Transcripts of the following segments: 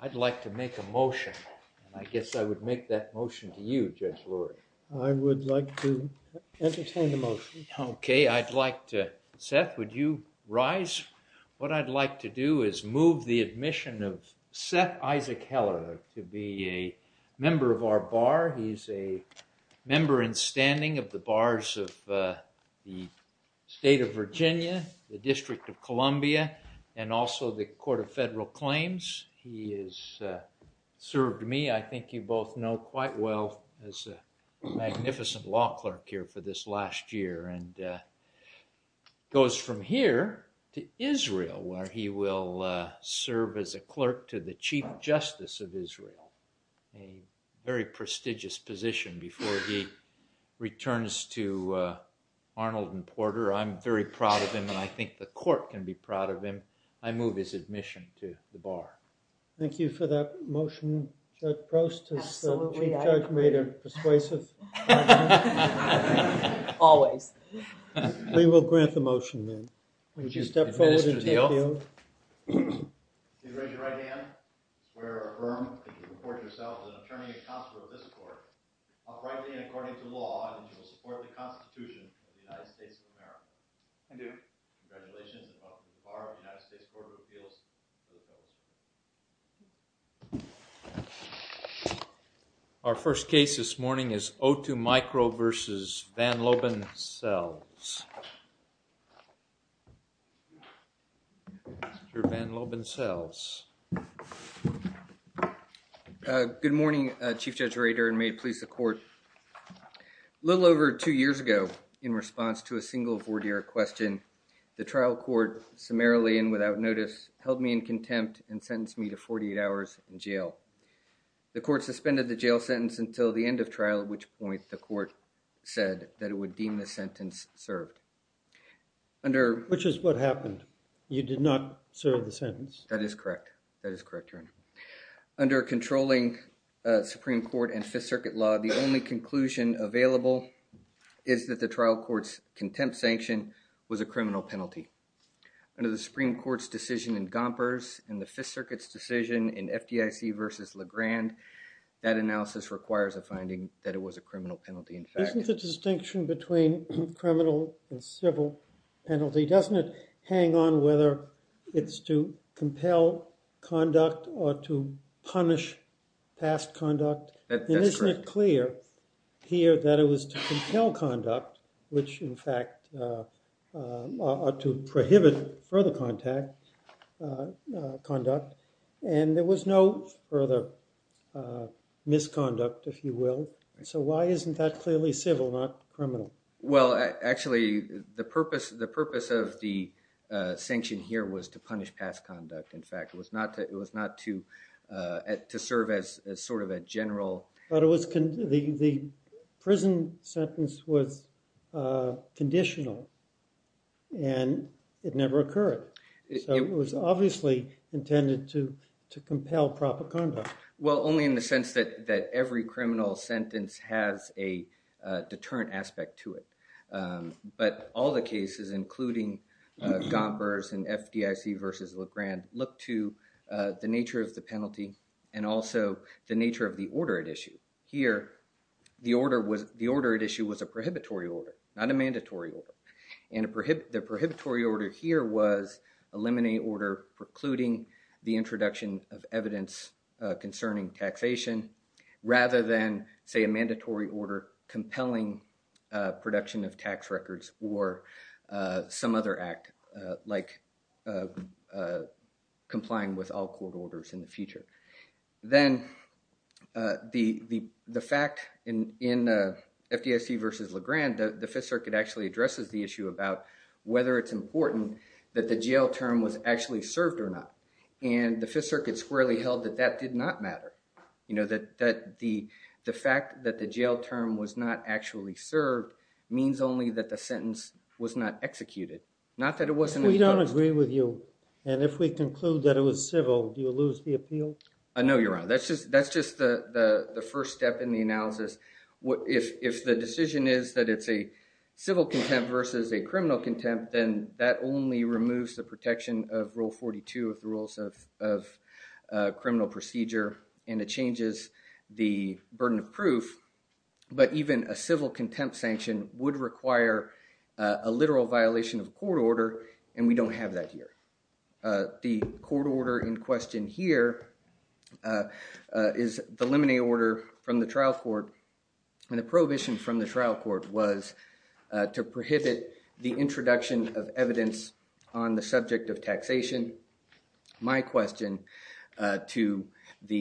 I'd like to make a motion. I guess I would make that motion to you, Judge Lurie. I would like to entertain the motion. Okay, I'd like to... Seth, would you rise? What I'd like to do is move the admission of Seth Isaac Heller to be a member of our bar. He's a member in standing of the bars of the State of Virginia, the District of Columbia, and also the Court of Federal Claims. He has served me, I think you both know quite well, as a magnificent law clerk here for this last year and goes from here to Israel where he will serve as a clerk to the Chief Justice of Israel, a very prestigious position before he returns to Arnold and Porter. I'm very proud of him and I think the court can be proud of him. I move his admission to the bar. Thank you for that motion. Judge Proust, has the Chief Judge made a persuasive comment? Always. We will grant the motion then. Would you step forward and take the oath? Please raise your right hand, swear or affirm that you report yourself as an attorney and counselor of this court, uprightly and according to law, and that you will support the Constitution of the United States of America. I do. Congratulations and welcome to the bar of the United States Court of Appeals. Our first case this morning is O2 Micro v. Van Loban Sells. Mr. Van Loban Sells. Good morning, Chief Judge Rader and may it please the court. A little over two years ago, in response to a single vorderic question, the trial court summarily and without notice held me in contempt and sentenced me to 48 hours in jail. The court suspended the jail sentence until the end of trial, at which point the court said that it would deem the sentence served. That is correct. That is correct, Your Honor. Under a controlling Supreme Court and Fifth Circuit law, the only conclusion available is that the trial court's contempt sanction was a criminal penalty. Under the Supreme Court's decision in Gompers and the Fifth Circuit's decision in FDIC v. Legrand, that analysis requires a finding that it was a criminal penalty. Isn't the distinction between criminal and civil penalty, doesn't it, hang on whether it's to compel conduct or to punish past conduct? And isn't it clear here that it was to compel conduct, which in fact ought to prohibit further conduct, and there was no further misconduct, if you will. So why isn't that clearly civil, not criminal? Well, actually, the purpose of the sanction here was to punish past conduct. In fact, it was not to serve as sort of a general. But the prison sentence was conditional, and it never occurred. It was obviously intended to compel proper conduct. Well, only in the sense that every criminal sentence has a deterrent aspect to it. But all the cases, including Gompers and FDIC v. Legrand, look to the nature of the penalty and also the nature of the order at issue. Here, the order at issue was a prohibitory order, not a mandatory order. And the prohibitory order here was a limine order precluding the introduction of evidence concerning taxation, rather than, say, a mandatory order compelling production of tax records or some other act, like complying with all court orders in the future. Then the fact in FDIC v. Legrand, the Fifth Circuit actually addresses the issue about whether it's important that the jail term was actually served or not. And the Fifth Circuit squarely held that that did not matter, that the fact that the jail term was not actually served means only that the sentence was not executed. If we don't agree with you, and if we conclude that it was civil, do you lose the appeal? No, you're wrong. That's just the first step in the analysis. If the decision is that it's a civil contempt versus a criminal contempt, then that only removes the protection of Rule 42 of the Rules of Criminal Procedure, and it changes the burden of proof. But even a civil contempt sanction would require a literal violation of court order, and we don't have that here. The court order in question here is the limine order from the trial court, and the prohibition from the trial court was to prohibit the introduction of evidence on the subject of taxation. My question to the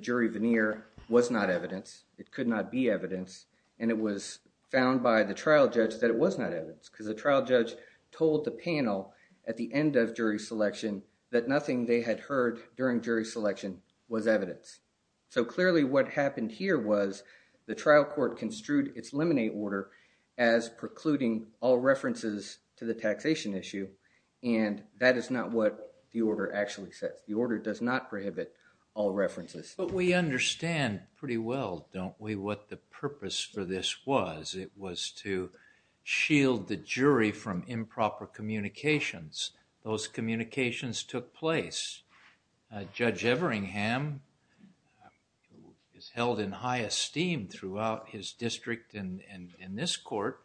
jury veneer was not evidence. It could not be evidence, and it was found by the trial judge that it was not evidence because the trial judge told the panel at the end of jury selection that nothing they had heard during jury selection was evidence. So clearly what happened here was the trial court construed its limine order as precluding all references to the taxation issue, and that is not what the order actually says. The order does not prohibit all references. But we understand pretty well, don't we, what the purpose for this was. It was to shield the jury from improper communications. Those communications took place. Judge Everingham, who is held in high esteem throughout his district and in this court,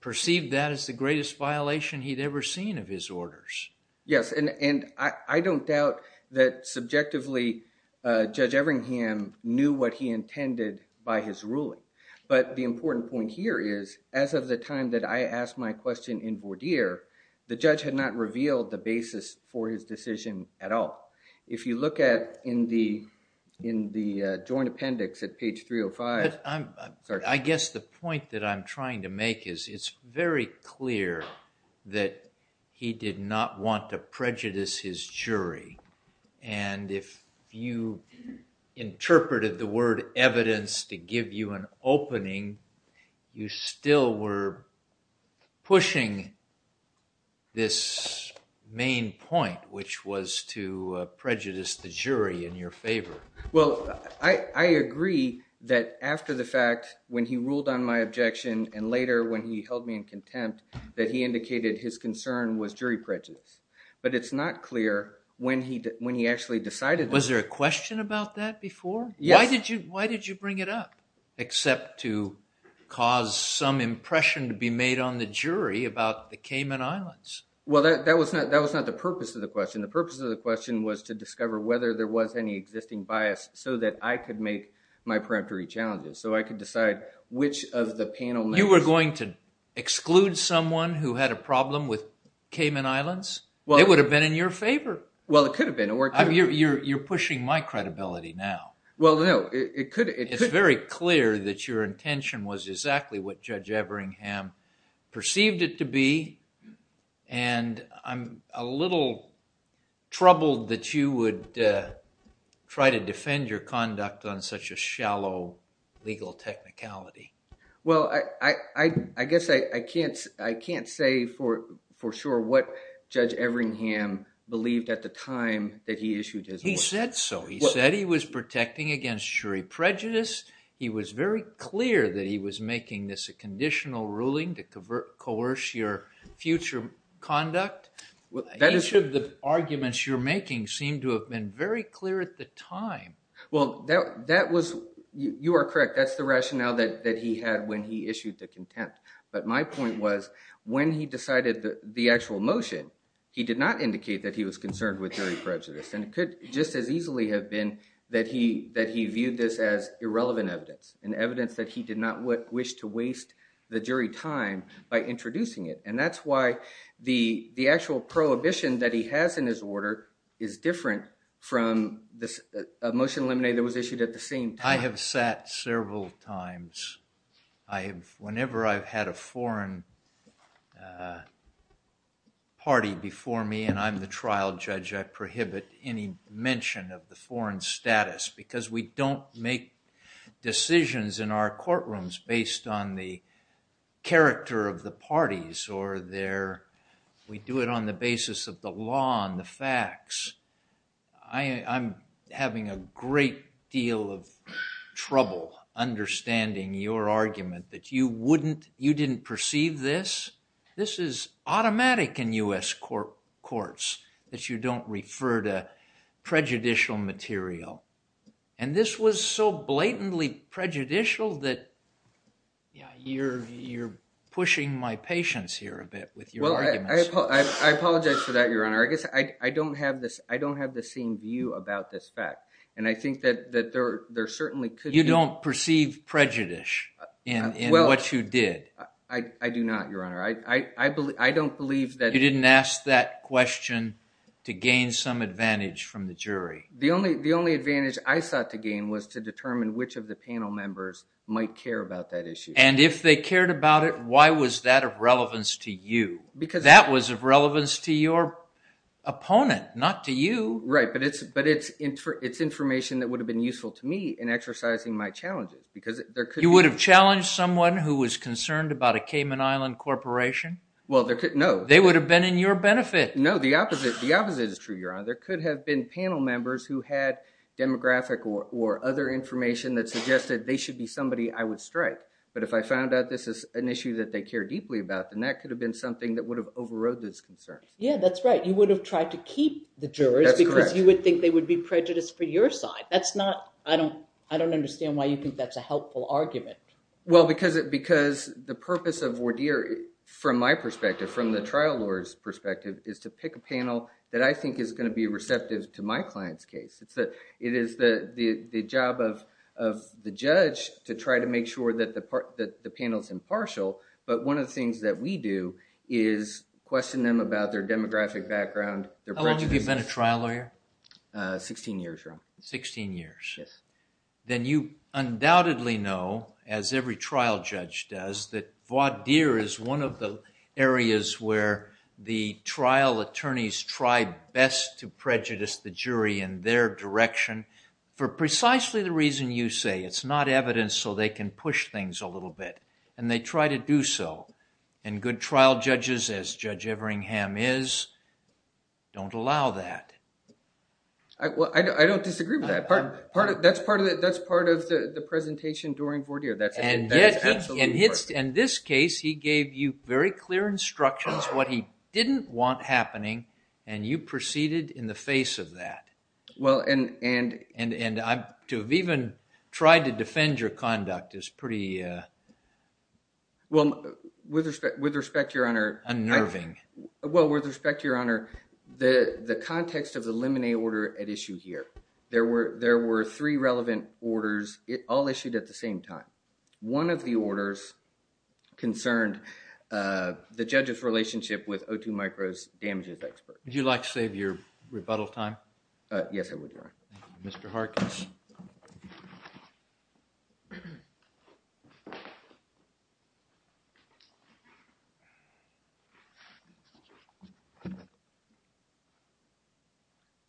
perceived that as the greatest violation he'd ever seen of his orders. Yes, and I don't doubt that subjectively Judge Everingham knew what he intended by his ruling. But the important point here is as of the time that I asked my question in Vourdier, the judge had not revealed the basis for his decision at all. If you look at in the joint appendix at page 305. I guess the point that I'm trying to make is it's very clear that he did not want to prejudice his jury. And if you interpreted the word evidence to give you an opening, you still were pushing this main point, which was to prejudice the jury in your favor. Well, I agree that after the fact, when he ruled on my objection, and later when he held me in contempt, that he indicated his concern was jury prejudice. But it's not clear when he actually decided. Was there a question about that before? Yes. Why did you bring it up except to cause some impression to be made on the jury about the Cayman Islands? Well, that was not the purpose of the question. The purpose of the question was to discover whether there was any existing bias so that I could make my peremptory challenges, so I could decide which of the panel members. You were going to exclude someone who had a problem with Cayman Islands? It would have been in your favor. Well, it could have been. You're pushing my credibility now. Well, no. It's very clear that your intention was exactly what Judge Everingham perceived it to be. And I'm a little troubled that you would try to defend your conduct on such a shallow legal technicality. Well, I guess I can't say for sure what Judge Everingham believed at the time that he issued his order. He said so. He said he was protecting against jury prejudice. He was very clear that he was making this a conditional ruling to coerce your future conduct. Each of the arguments you're making seemed to have been very clear at the time. Well, you are correct. That's the rationale that he had when he issued the contempt. But my point was when he decided the actual motion, he did not indicate that he was concerned with jury prejudice. And it could just as easily have been that he viewed this as irrelevant evidence, an evidence that he did not wish to waste the jury time by introducing it. And that's why the actual prohibition that he has in his order is different from a motion eliminated that was issued at the same time. I have sat several times. Whenever I've had a foreign party before me and I'm the trial judge, I prohibit any mention of the foreign status because we don't make decisions in our courtrooms based on the character of the parties. We do it on the basis of the law and the facts. I'm having a great deal of trouble understanding your argument that you didn't perceive this. This is automatic in U.S. courts that you don't refer to prejudicial material. And this was so blatantly prejudicial that you're pushing my patience here a bit with your arguments. I apologize for that, Your Honor. I guess I don't have the same view about this fact. And I think that there certainly could be— You don't perceive prejudice in what you did. I do not, Your Honor. I don't believe that— You didn't ask that question to gain some advantage from the jury. The only advantage I sought to gain was to determine which of the panel members might care about that issue. And if they cared about it, why was that of relevance to you? That was of relevance to your opponent, not to you. Right, but it's information that would have been useful to me in exercising my challenges because there could be— You would have challenged someone who was concerned about a Cayman Island corporation? Well, there could—no. They would have been in your benefit. No, the opposite is true, Your Honor. There could have been panel members who had demographic or other information that suggested they should be somebody I would strike. But if I found out this is an issue that they care deeply about, then that could have been something that would have overrode those concerns. Yeah, that's right. You would have tried to keep the jurors because you would think they would be prejudiced for your side. That's not—I don't understand why you think that's a helpful argument. Well, because the purpose of voir dire, from my perspective, from the trial lawyer's perspective, is to pick a panel that I think is going to be receptive to my client's case. It is the job of the judge to try to make sure that the panel is impartial. But one of the things that we do is question them about their demographic background. How long have you been a trial lawyer? Sixteen years, Your Honor. Sixteen years. Yes. Then you undoubtedly know, as every trial judge does, that voir dire is one of the areas where the trial attorneys try best to prejudice the jury in their direction for precisely the reason you say. It's not evidence so they can push things a little bit, and they try to do so. And good trial judges, as Judge Everingham is, don't allow that. I don't disagree with that. That's part of the presentation during voir dire. And yet, in this case, he gave you very clear instructions, what he didn't want happening, and you proceeded in the face of that. Well, and— And to have even tried to defend your conduct is pretty— Well, with respect, Your Honor— Unnerving. Well, with respect, Your Honor, the context of the limine order at issue here. There were three relevant orders, all issued at the same time. One of the orders concerned the judge's relationship with O2 Micro's damages expert. Would you like to save your rebuttal time? Yes, I would, Your Honor. Thank you. Mr. Harkins.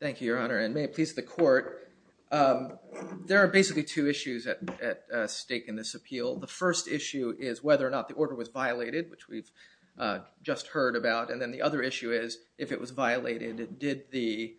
Thank you, Your Honor, and may it please the court. There are basically two issues at stake in this appeal. The first issue is whether or not the order was violated, which we've just heard about. And then the other issue is, if it was violated, did the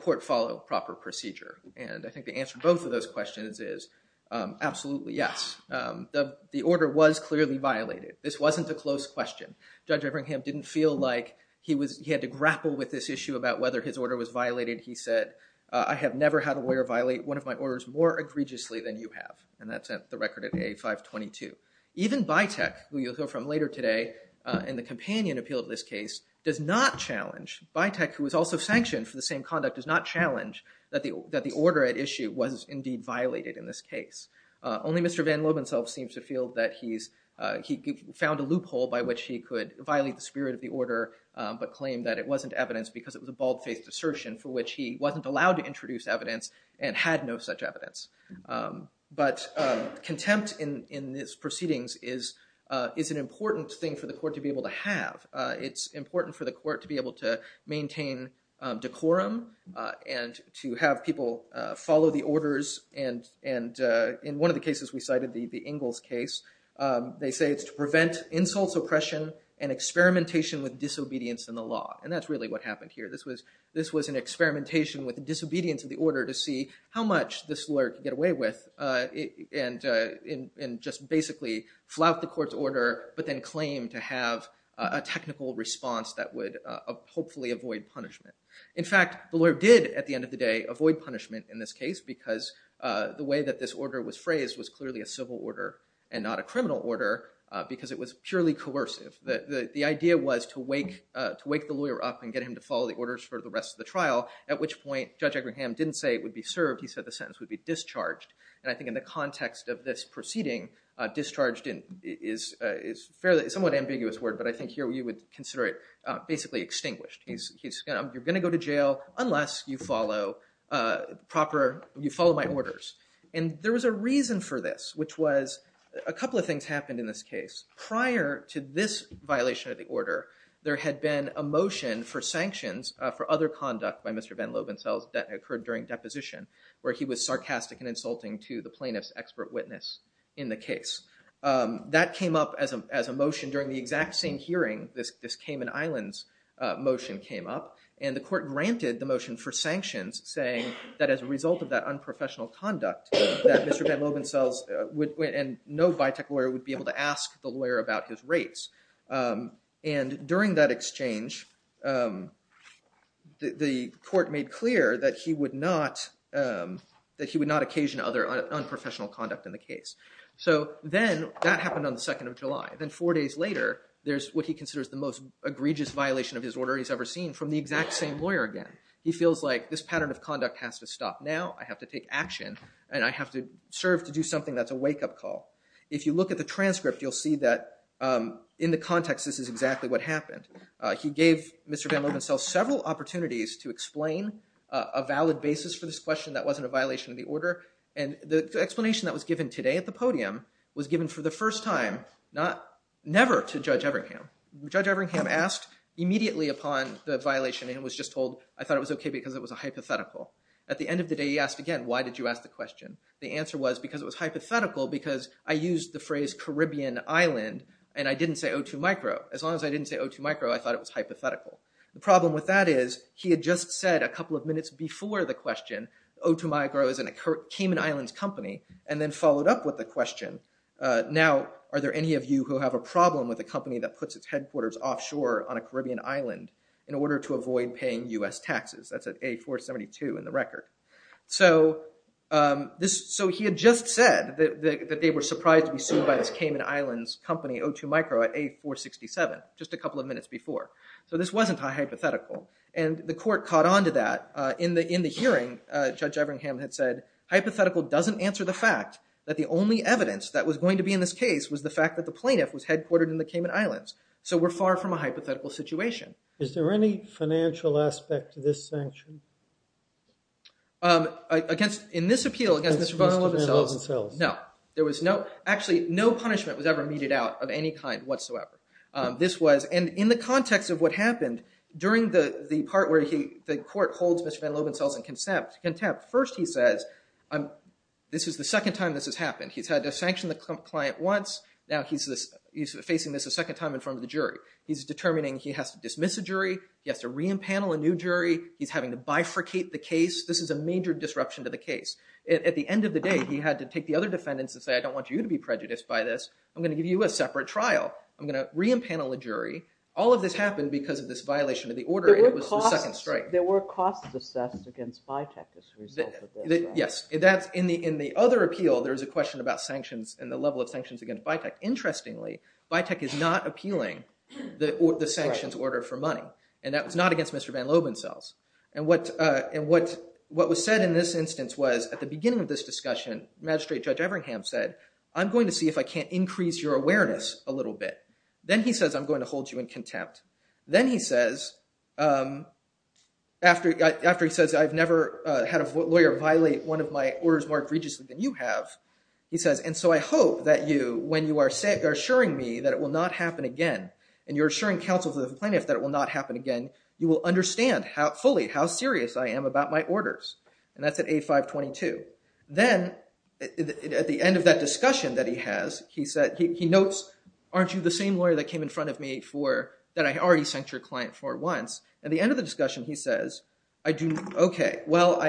court follow proper procedure? And I think the answer to both of those questions is absolutely yes. The order was clearly violated. This wasn't a close question. Judge Eberingham didn't feel like he had to grapple with this issue about whether his order was violated. He said, I have never had a lawyer violate one of my orders more egregiously than you have. And that's the record at A522. Even Byteck, who you'll hear from later today in the companion appeal of this case, does not challenge. Byteck, who was also sanctioned for the same conduct, does not challenge that the order at issue was indeed violated in this case. Only Mr. Van Loeb himself seems to feel that he found a loophole by which he could violate the spirit of the order, but claimed that it wasn't evidence because it was a bald-faced assertion for which he wasn't allowed to introduce evidence and had no such evidence. But contempt in these proceedings is an important thing for the court to be able to have. It's important for the court to be able to maintain decorum and to have people follow the orders. And in one of the cases we cited, the Ingalls case, they say it's to prevent insults, oppression, and experimentation with disobedience in the law. And that's really what happened here. This was an experimentation with disobedience of the order to see how much this lawyer could get away with and just basically flout the court's order, but then claim to have a technical response that would hopefully avoid punishment. In fact, the lawyer did, at the end of the day, avoid punishment in this case because the way that this order was phrased was clearly a civil order and not a criminal order because it was purely coercive. The idea was to wake the lawyer up and get him to follow the orders for the rest of the trial, at which point Judge Agrahan didn't say it would be served. He said the sentence would be discharged. And I think in the context of this proceeding, discharged is a somewhat ambiguous word, but I think here you would consider it basically extinguished. You're going to go to jail unless you follow my orders. And there was a reason for this, which was a couple of things happened in this case. Prior to this violation of the order, there had been a motion for sanctions for other conduct by Mr. Van Lobenzeld that occurred during deposition, where he was sarcastic and insulting to the plaintiff's expert witness in the case. That came up as a motion during the exact same hearing this Cayman Islands motion came up, and the court granted the motion for sanctions saying that as a result of that unprofessional conduct that Mr. Van Lobenzeld and no Vitek lawyer would be able to ask the lawyer about his rates. And during that exchange, the court made clear that he would not occasion other unprofessional conduct in the case. So then that happened on the 2nd of July. Then four days later, there's what he considers the most egregious violation of his order he's ever seen from the exact same lawyer again. He feels like this pattern of conduct has to stop now. I have to take action, and I have to serve to do something that's a wake-up call. If you look at the transcript, you'll see that in the context, this is exactly what happened. He gave Mr. Van Lobenzeld several opportunities to explain a valid basis for this question that wasn't a violation of the order, and the explanation that was given today at the podium was given for the first time never to Judge Everingham. Judge Everingham asked immediately upon the violation, and was just told, I thought it was okay because it was a hypothetical. At the end of the day, he asked again, why did you ask the question? The answer was because it was hypothetical because I used the phrase Caribbean Island, and I didn't say O2 micro. As long as I didn't say O2 micro, I thought it was hypothetical. The problem with that is he had just said a couple of minutes before the question, O2 micro is a Cayman Islands company, and then followed up with the question. Now, are there any of you who have a problem with a company that puts its headquarters offshore on a Caribbean island in order to avoid paying U.S. taxes? That's at A472 in the record. So he had just said that they were surprised to be sued by this Cayman Islands company, O2 micro, at A467, just a couple of minutes before. So this wasn't hypothetical. And the court caught on to that. In the hearing, Judge Everingham had said, hypothetical doesn't answer the fact that the only evidence that was going to be in this case was the fact that the plaintiff was headquartered in the Cayman Islands. So we're far from a hypothetical situation. Is there any financial aspect to this sanction? In this appeal against Mr. Barnhill himself, no. Actually, no punishment was ever meted out of any kind whatsoever. And in the context of what happened, during the part where the court holds Mr. Van Lobenzell in contempt, first he says, this is the second time this has happened. He's had to sanction the client once. Now he's facing this a second time in front of the jury. He's determining he has to dismiss a jury. He has to re-impanel a new jury. He's having to bifurcate the case. This is a major disruption to the case. At the end of the day, he had to take the other defendants and say, I don't want you to be prejudiced by this. I'm going to give you a separate trial. I'm going to re-impanel a jury. All of this happened because of this violation of the order, and it was the second strike. There were costs assessed against Vitek as a result of this, right? Yes. In the other appeal, there was a question about sanctions and the level of sanctions against Vitek. Interestingly, Vitek is not appealing the sanctions order for money. And that was not against Mr. Van Lobenzell. And what was said in this instance was, at the beginning of this discussion, Magistrate Judge Everingham said, I'm going to see if I can't increase your awareness a little bit. Then he says, I'm going to hold you in contempt. Then he says, after he says, I've never had a lawyer violate one of my orders more egregiously than you have, he says, and so I hope that you, when you are assuring me that it will not happen again, and you're assuring counsel to the plaintiff that it will not happen again, you will understand fully how serious I am about my orders. And that's at A522. Then at the end of that discussion that he has, he notes, aren't you the same lawyer that came in front of me that I already sent your client for once? At the end of the discussion, he says, OK, well,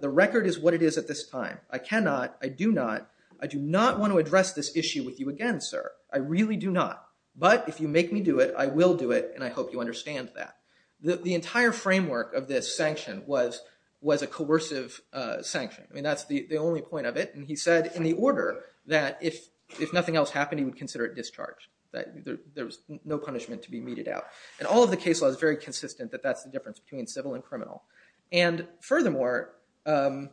the record is what it is at this time. I cannot, I do not, I do not want to address this issue with you again, sir. I really do not. But if you make me do it, I will do it, and I hope you understand that. The entire framework of this sanction was a coercive sanction. I mean, that's the only point of it. And he said in the order that if nothing else happened, he would consider it discharge, that there was no punishment to be meted out. And all of the case law is very consistent that that's the difference between civil and criminal. And furthermore, in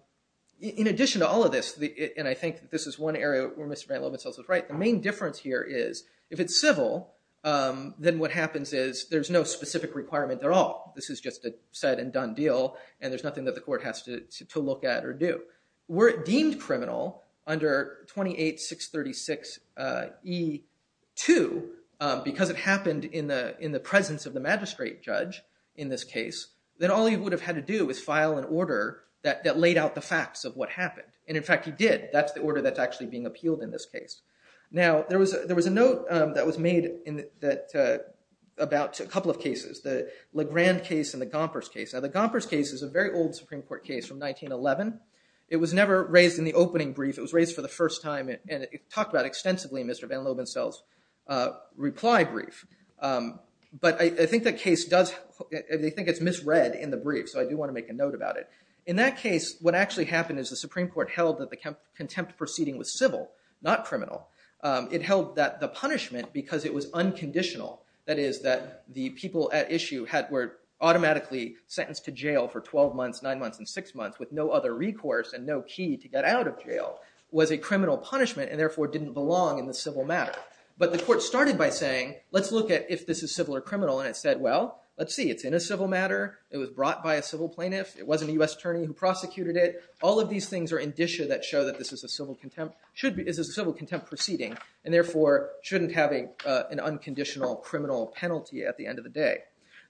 addition to all of this, and I think this is one area where Mr. Van Lomansels is right, the main difference here is if it's civil, then what happens is there's no specific requirement at all. This is just a said and done deal, and there's nothing that the court has to look at or do. Were it deemed criminal under 28636E2, because it happened in the presence of the magistrate judge in this case, then all he would have had to do is file an order that laid out the facts of what happened. And in fact, he did. That's the order that's actually being appealed in this case. Now, there was a note that was made about a couple of cases, the Legrand case and the Gompers case. Now, the Gompers case is a very old Supreme Court case from 1911. It was never raised in the opening brief. It was raised for the first time, and it talked about extensively in Mr. Van Lomansels' reply brief. But I think that case does, they think it's misread in the brief, so I do want to make a note about it. In that case, what actually happened is the Supreme Court held that the contempt proceeding was civil, not criminal. It held that the punishment, because it was unconditional, that is, that the people at issue were automatically sentenced to jail for 12 months, 9 months, and 6 months with no other recourse and no key to get out of jail, was a criminal punishment and therefore didn't belong in the civil matter. But the court started by saying, let's look at if this is civil or criminal, and it said, well, let's see. It's in a civil matter. It was brought by a civil plaintiff. It wasn't a U.S. attorney who prosecuted it. All of these things are indicia that show that this is a civil contempt proceeding, and therefore shouldn't have an unconditional criminal penalty at the end of the day.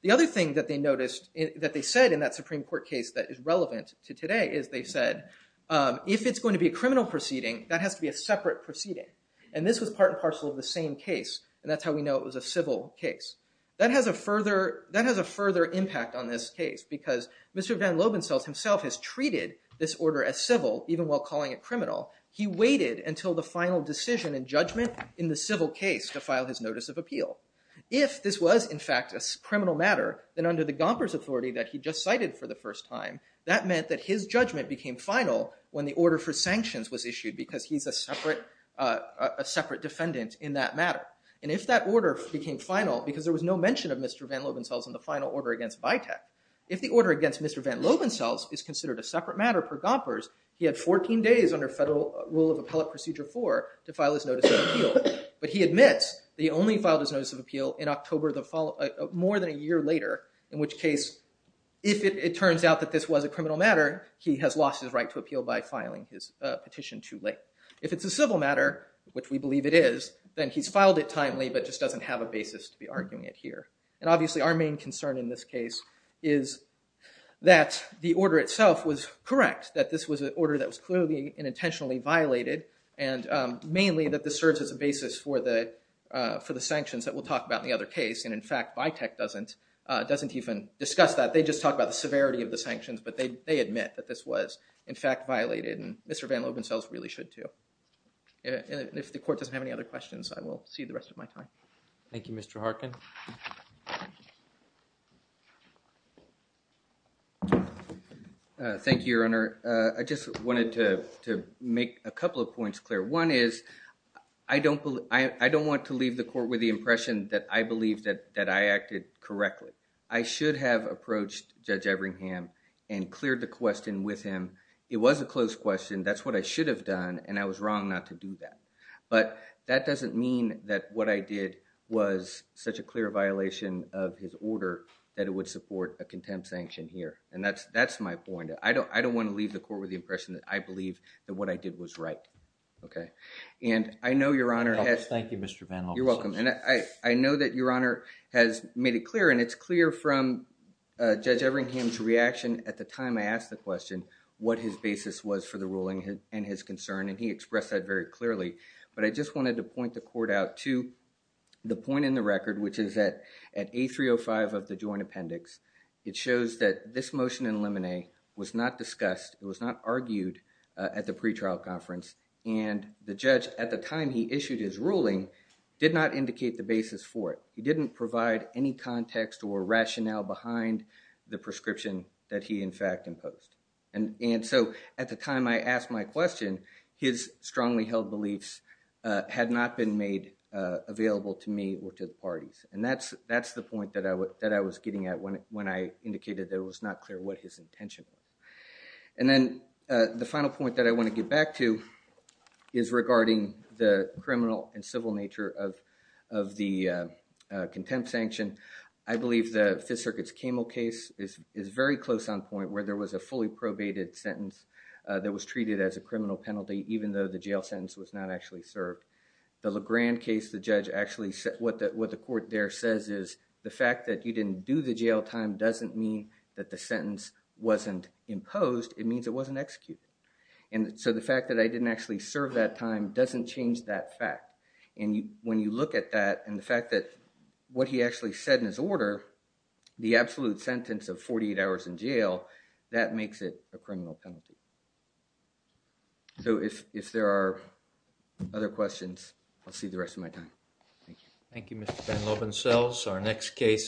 The other thing that they noticed, that they said in that Supreme Court case that is relevant to today is they said, if it's going to be a criminal proceeding, that has to be a separate proceeding. And this was part and parcel of the same case, and that's how we know it was a civil case. That has a further impact on this case, because Mr. Van Lobenstelt himself has treated this order as civil, even while calling it criminal. He waited until the final decision and judgment in the civil case to file his notice of appeal. If this was, in fact, a criminal matter, then under the Gomper's authority that he just cited for the first time, that meant that his judgment became final when the order for sanctions was issued, because he's a separate defendant in that matter. And if that order became final, because there was no mention of Mr. Van Lobenstelt in the final order against Vitek, if the order against Mr. Van Lobenstelt is considered a separate matter per Gompers, he had 14 days under federal rule of appellate procedure 4 to file his notice of appeal. But he admits that he only filed his notice of appeal in October of more than a year later, in which case, if it turns out that this was a criminal matter, he has lost his right to appeal by filing his petition too late. If it's a civil matter, which we believe it is, then he's filed it timely, but just doesn't have a basis to be arguing it here. And obviously our main concern in this case is that the order itself was correct, that this was an order that was clearly and intentionally violated, and mainly that this serves as a basis for the sanctions that we'll talk about in the other case. And in fact, Vitek doesn't even discuss that. They just talk about the severity of the sanctions, but they admit that this was, in fact, violated, and Mr. Van Lobenstelt really should too. And if the court doesn't have any other questions, I will see the rest of my time. Thank you, Mr. Harkin. Thank you, Your Honor. I just wanted to make a couple of points clear. One is I don't want to leave the court with the impression that I believe that I acted correctly. I should have approached Judge Eberingham and cleared the question with him. It was a close question. That's what I should have done, and I was wrong not to do that. But that doesn't mean that what I did was such a clear violation of his order that it would support a contempt sanction here. And that's my point. I don't want to leave the court with the impression that I believe that what I did was right. Okay? And I know Your Honor has… Thank you, Mr. Van Lobenstelt. You're welcome. And I know that Your Honor has made it clear, and it's clear from Judge Eberingham's reaction at the time I asked the question, what his basis was for the ruling and his concern, and he expressed that very clearly. But I just wanted to point the court out to the point in the record, which is that at A305 of the joint appendix, it shows that this motion in Lemonet was not discussed, it was not argued at the pretrial conference, and the judge, at the time he issued his ruling, did not indicate the basis for it. He didn't provide any context or rationale behind the prescription that he, in fact, imposed. And so at the time I asked my question, his strongly held beliefs had not been made available to me or to the parties. And that's the point that I was getting at when I indicated that it was not clear what his intention was. And then the final point that I want to get back to is regarding the criminal and civil nature of the contempt sanction. I believe the Fifth Circuit's Camel case is very close on point, where there was a fully probated sentence that was treated as a criminal penalty, even though the jail sentence was not actually served. The LeGrand case, what the court there says is the fact that you didn't do the jail time doesn't mean that the sentence wasn't imposed, it means it wasn't executed. And so the fact that I didn't actually serve that time doesn't change that fact. And when you look at that and the fact that what he actually said in his order, the absolute sentence of 48 hours in jail, that makes it a criminal penalty. So if there are other questions, I'll save the rest of my time. Thank you. Thank you, Mr. Van Lovensels.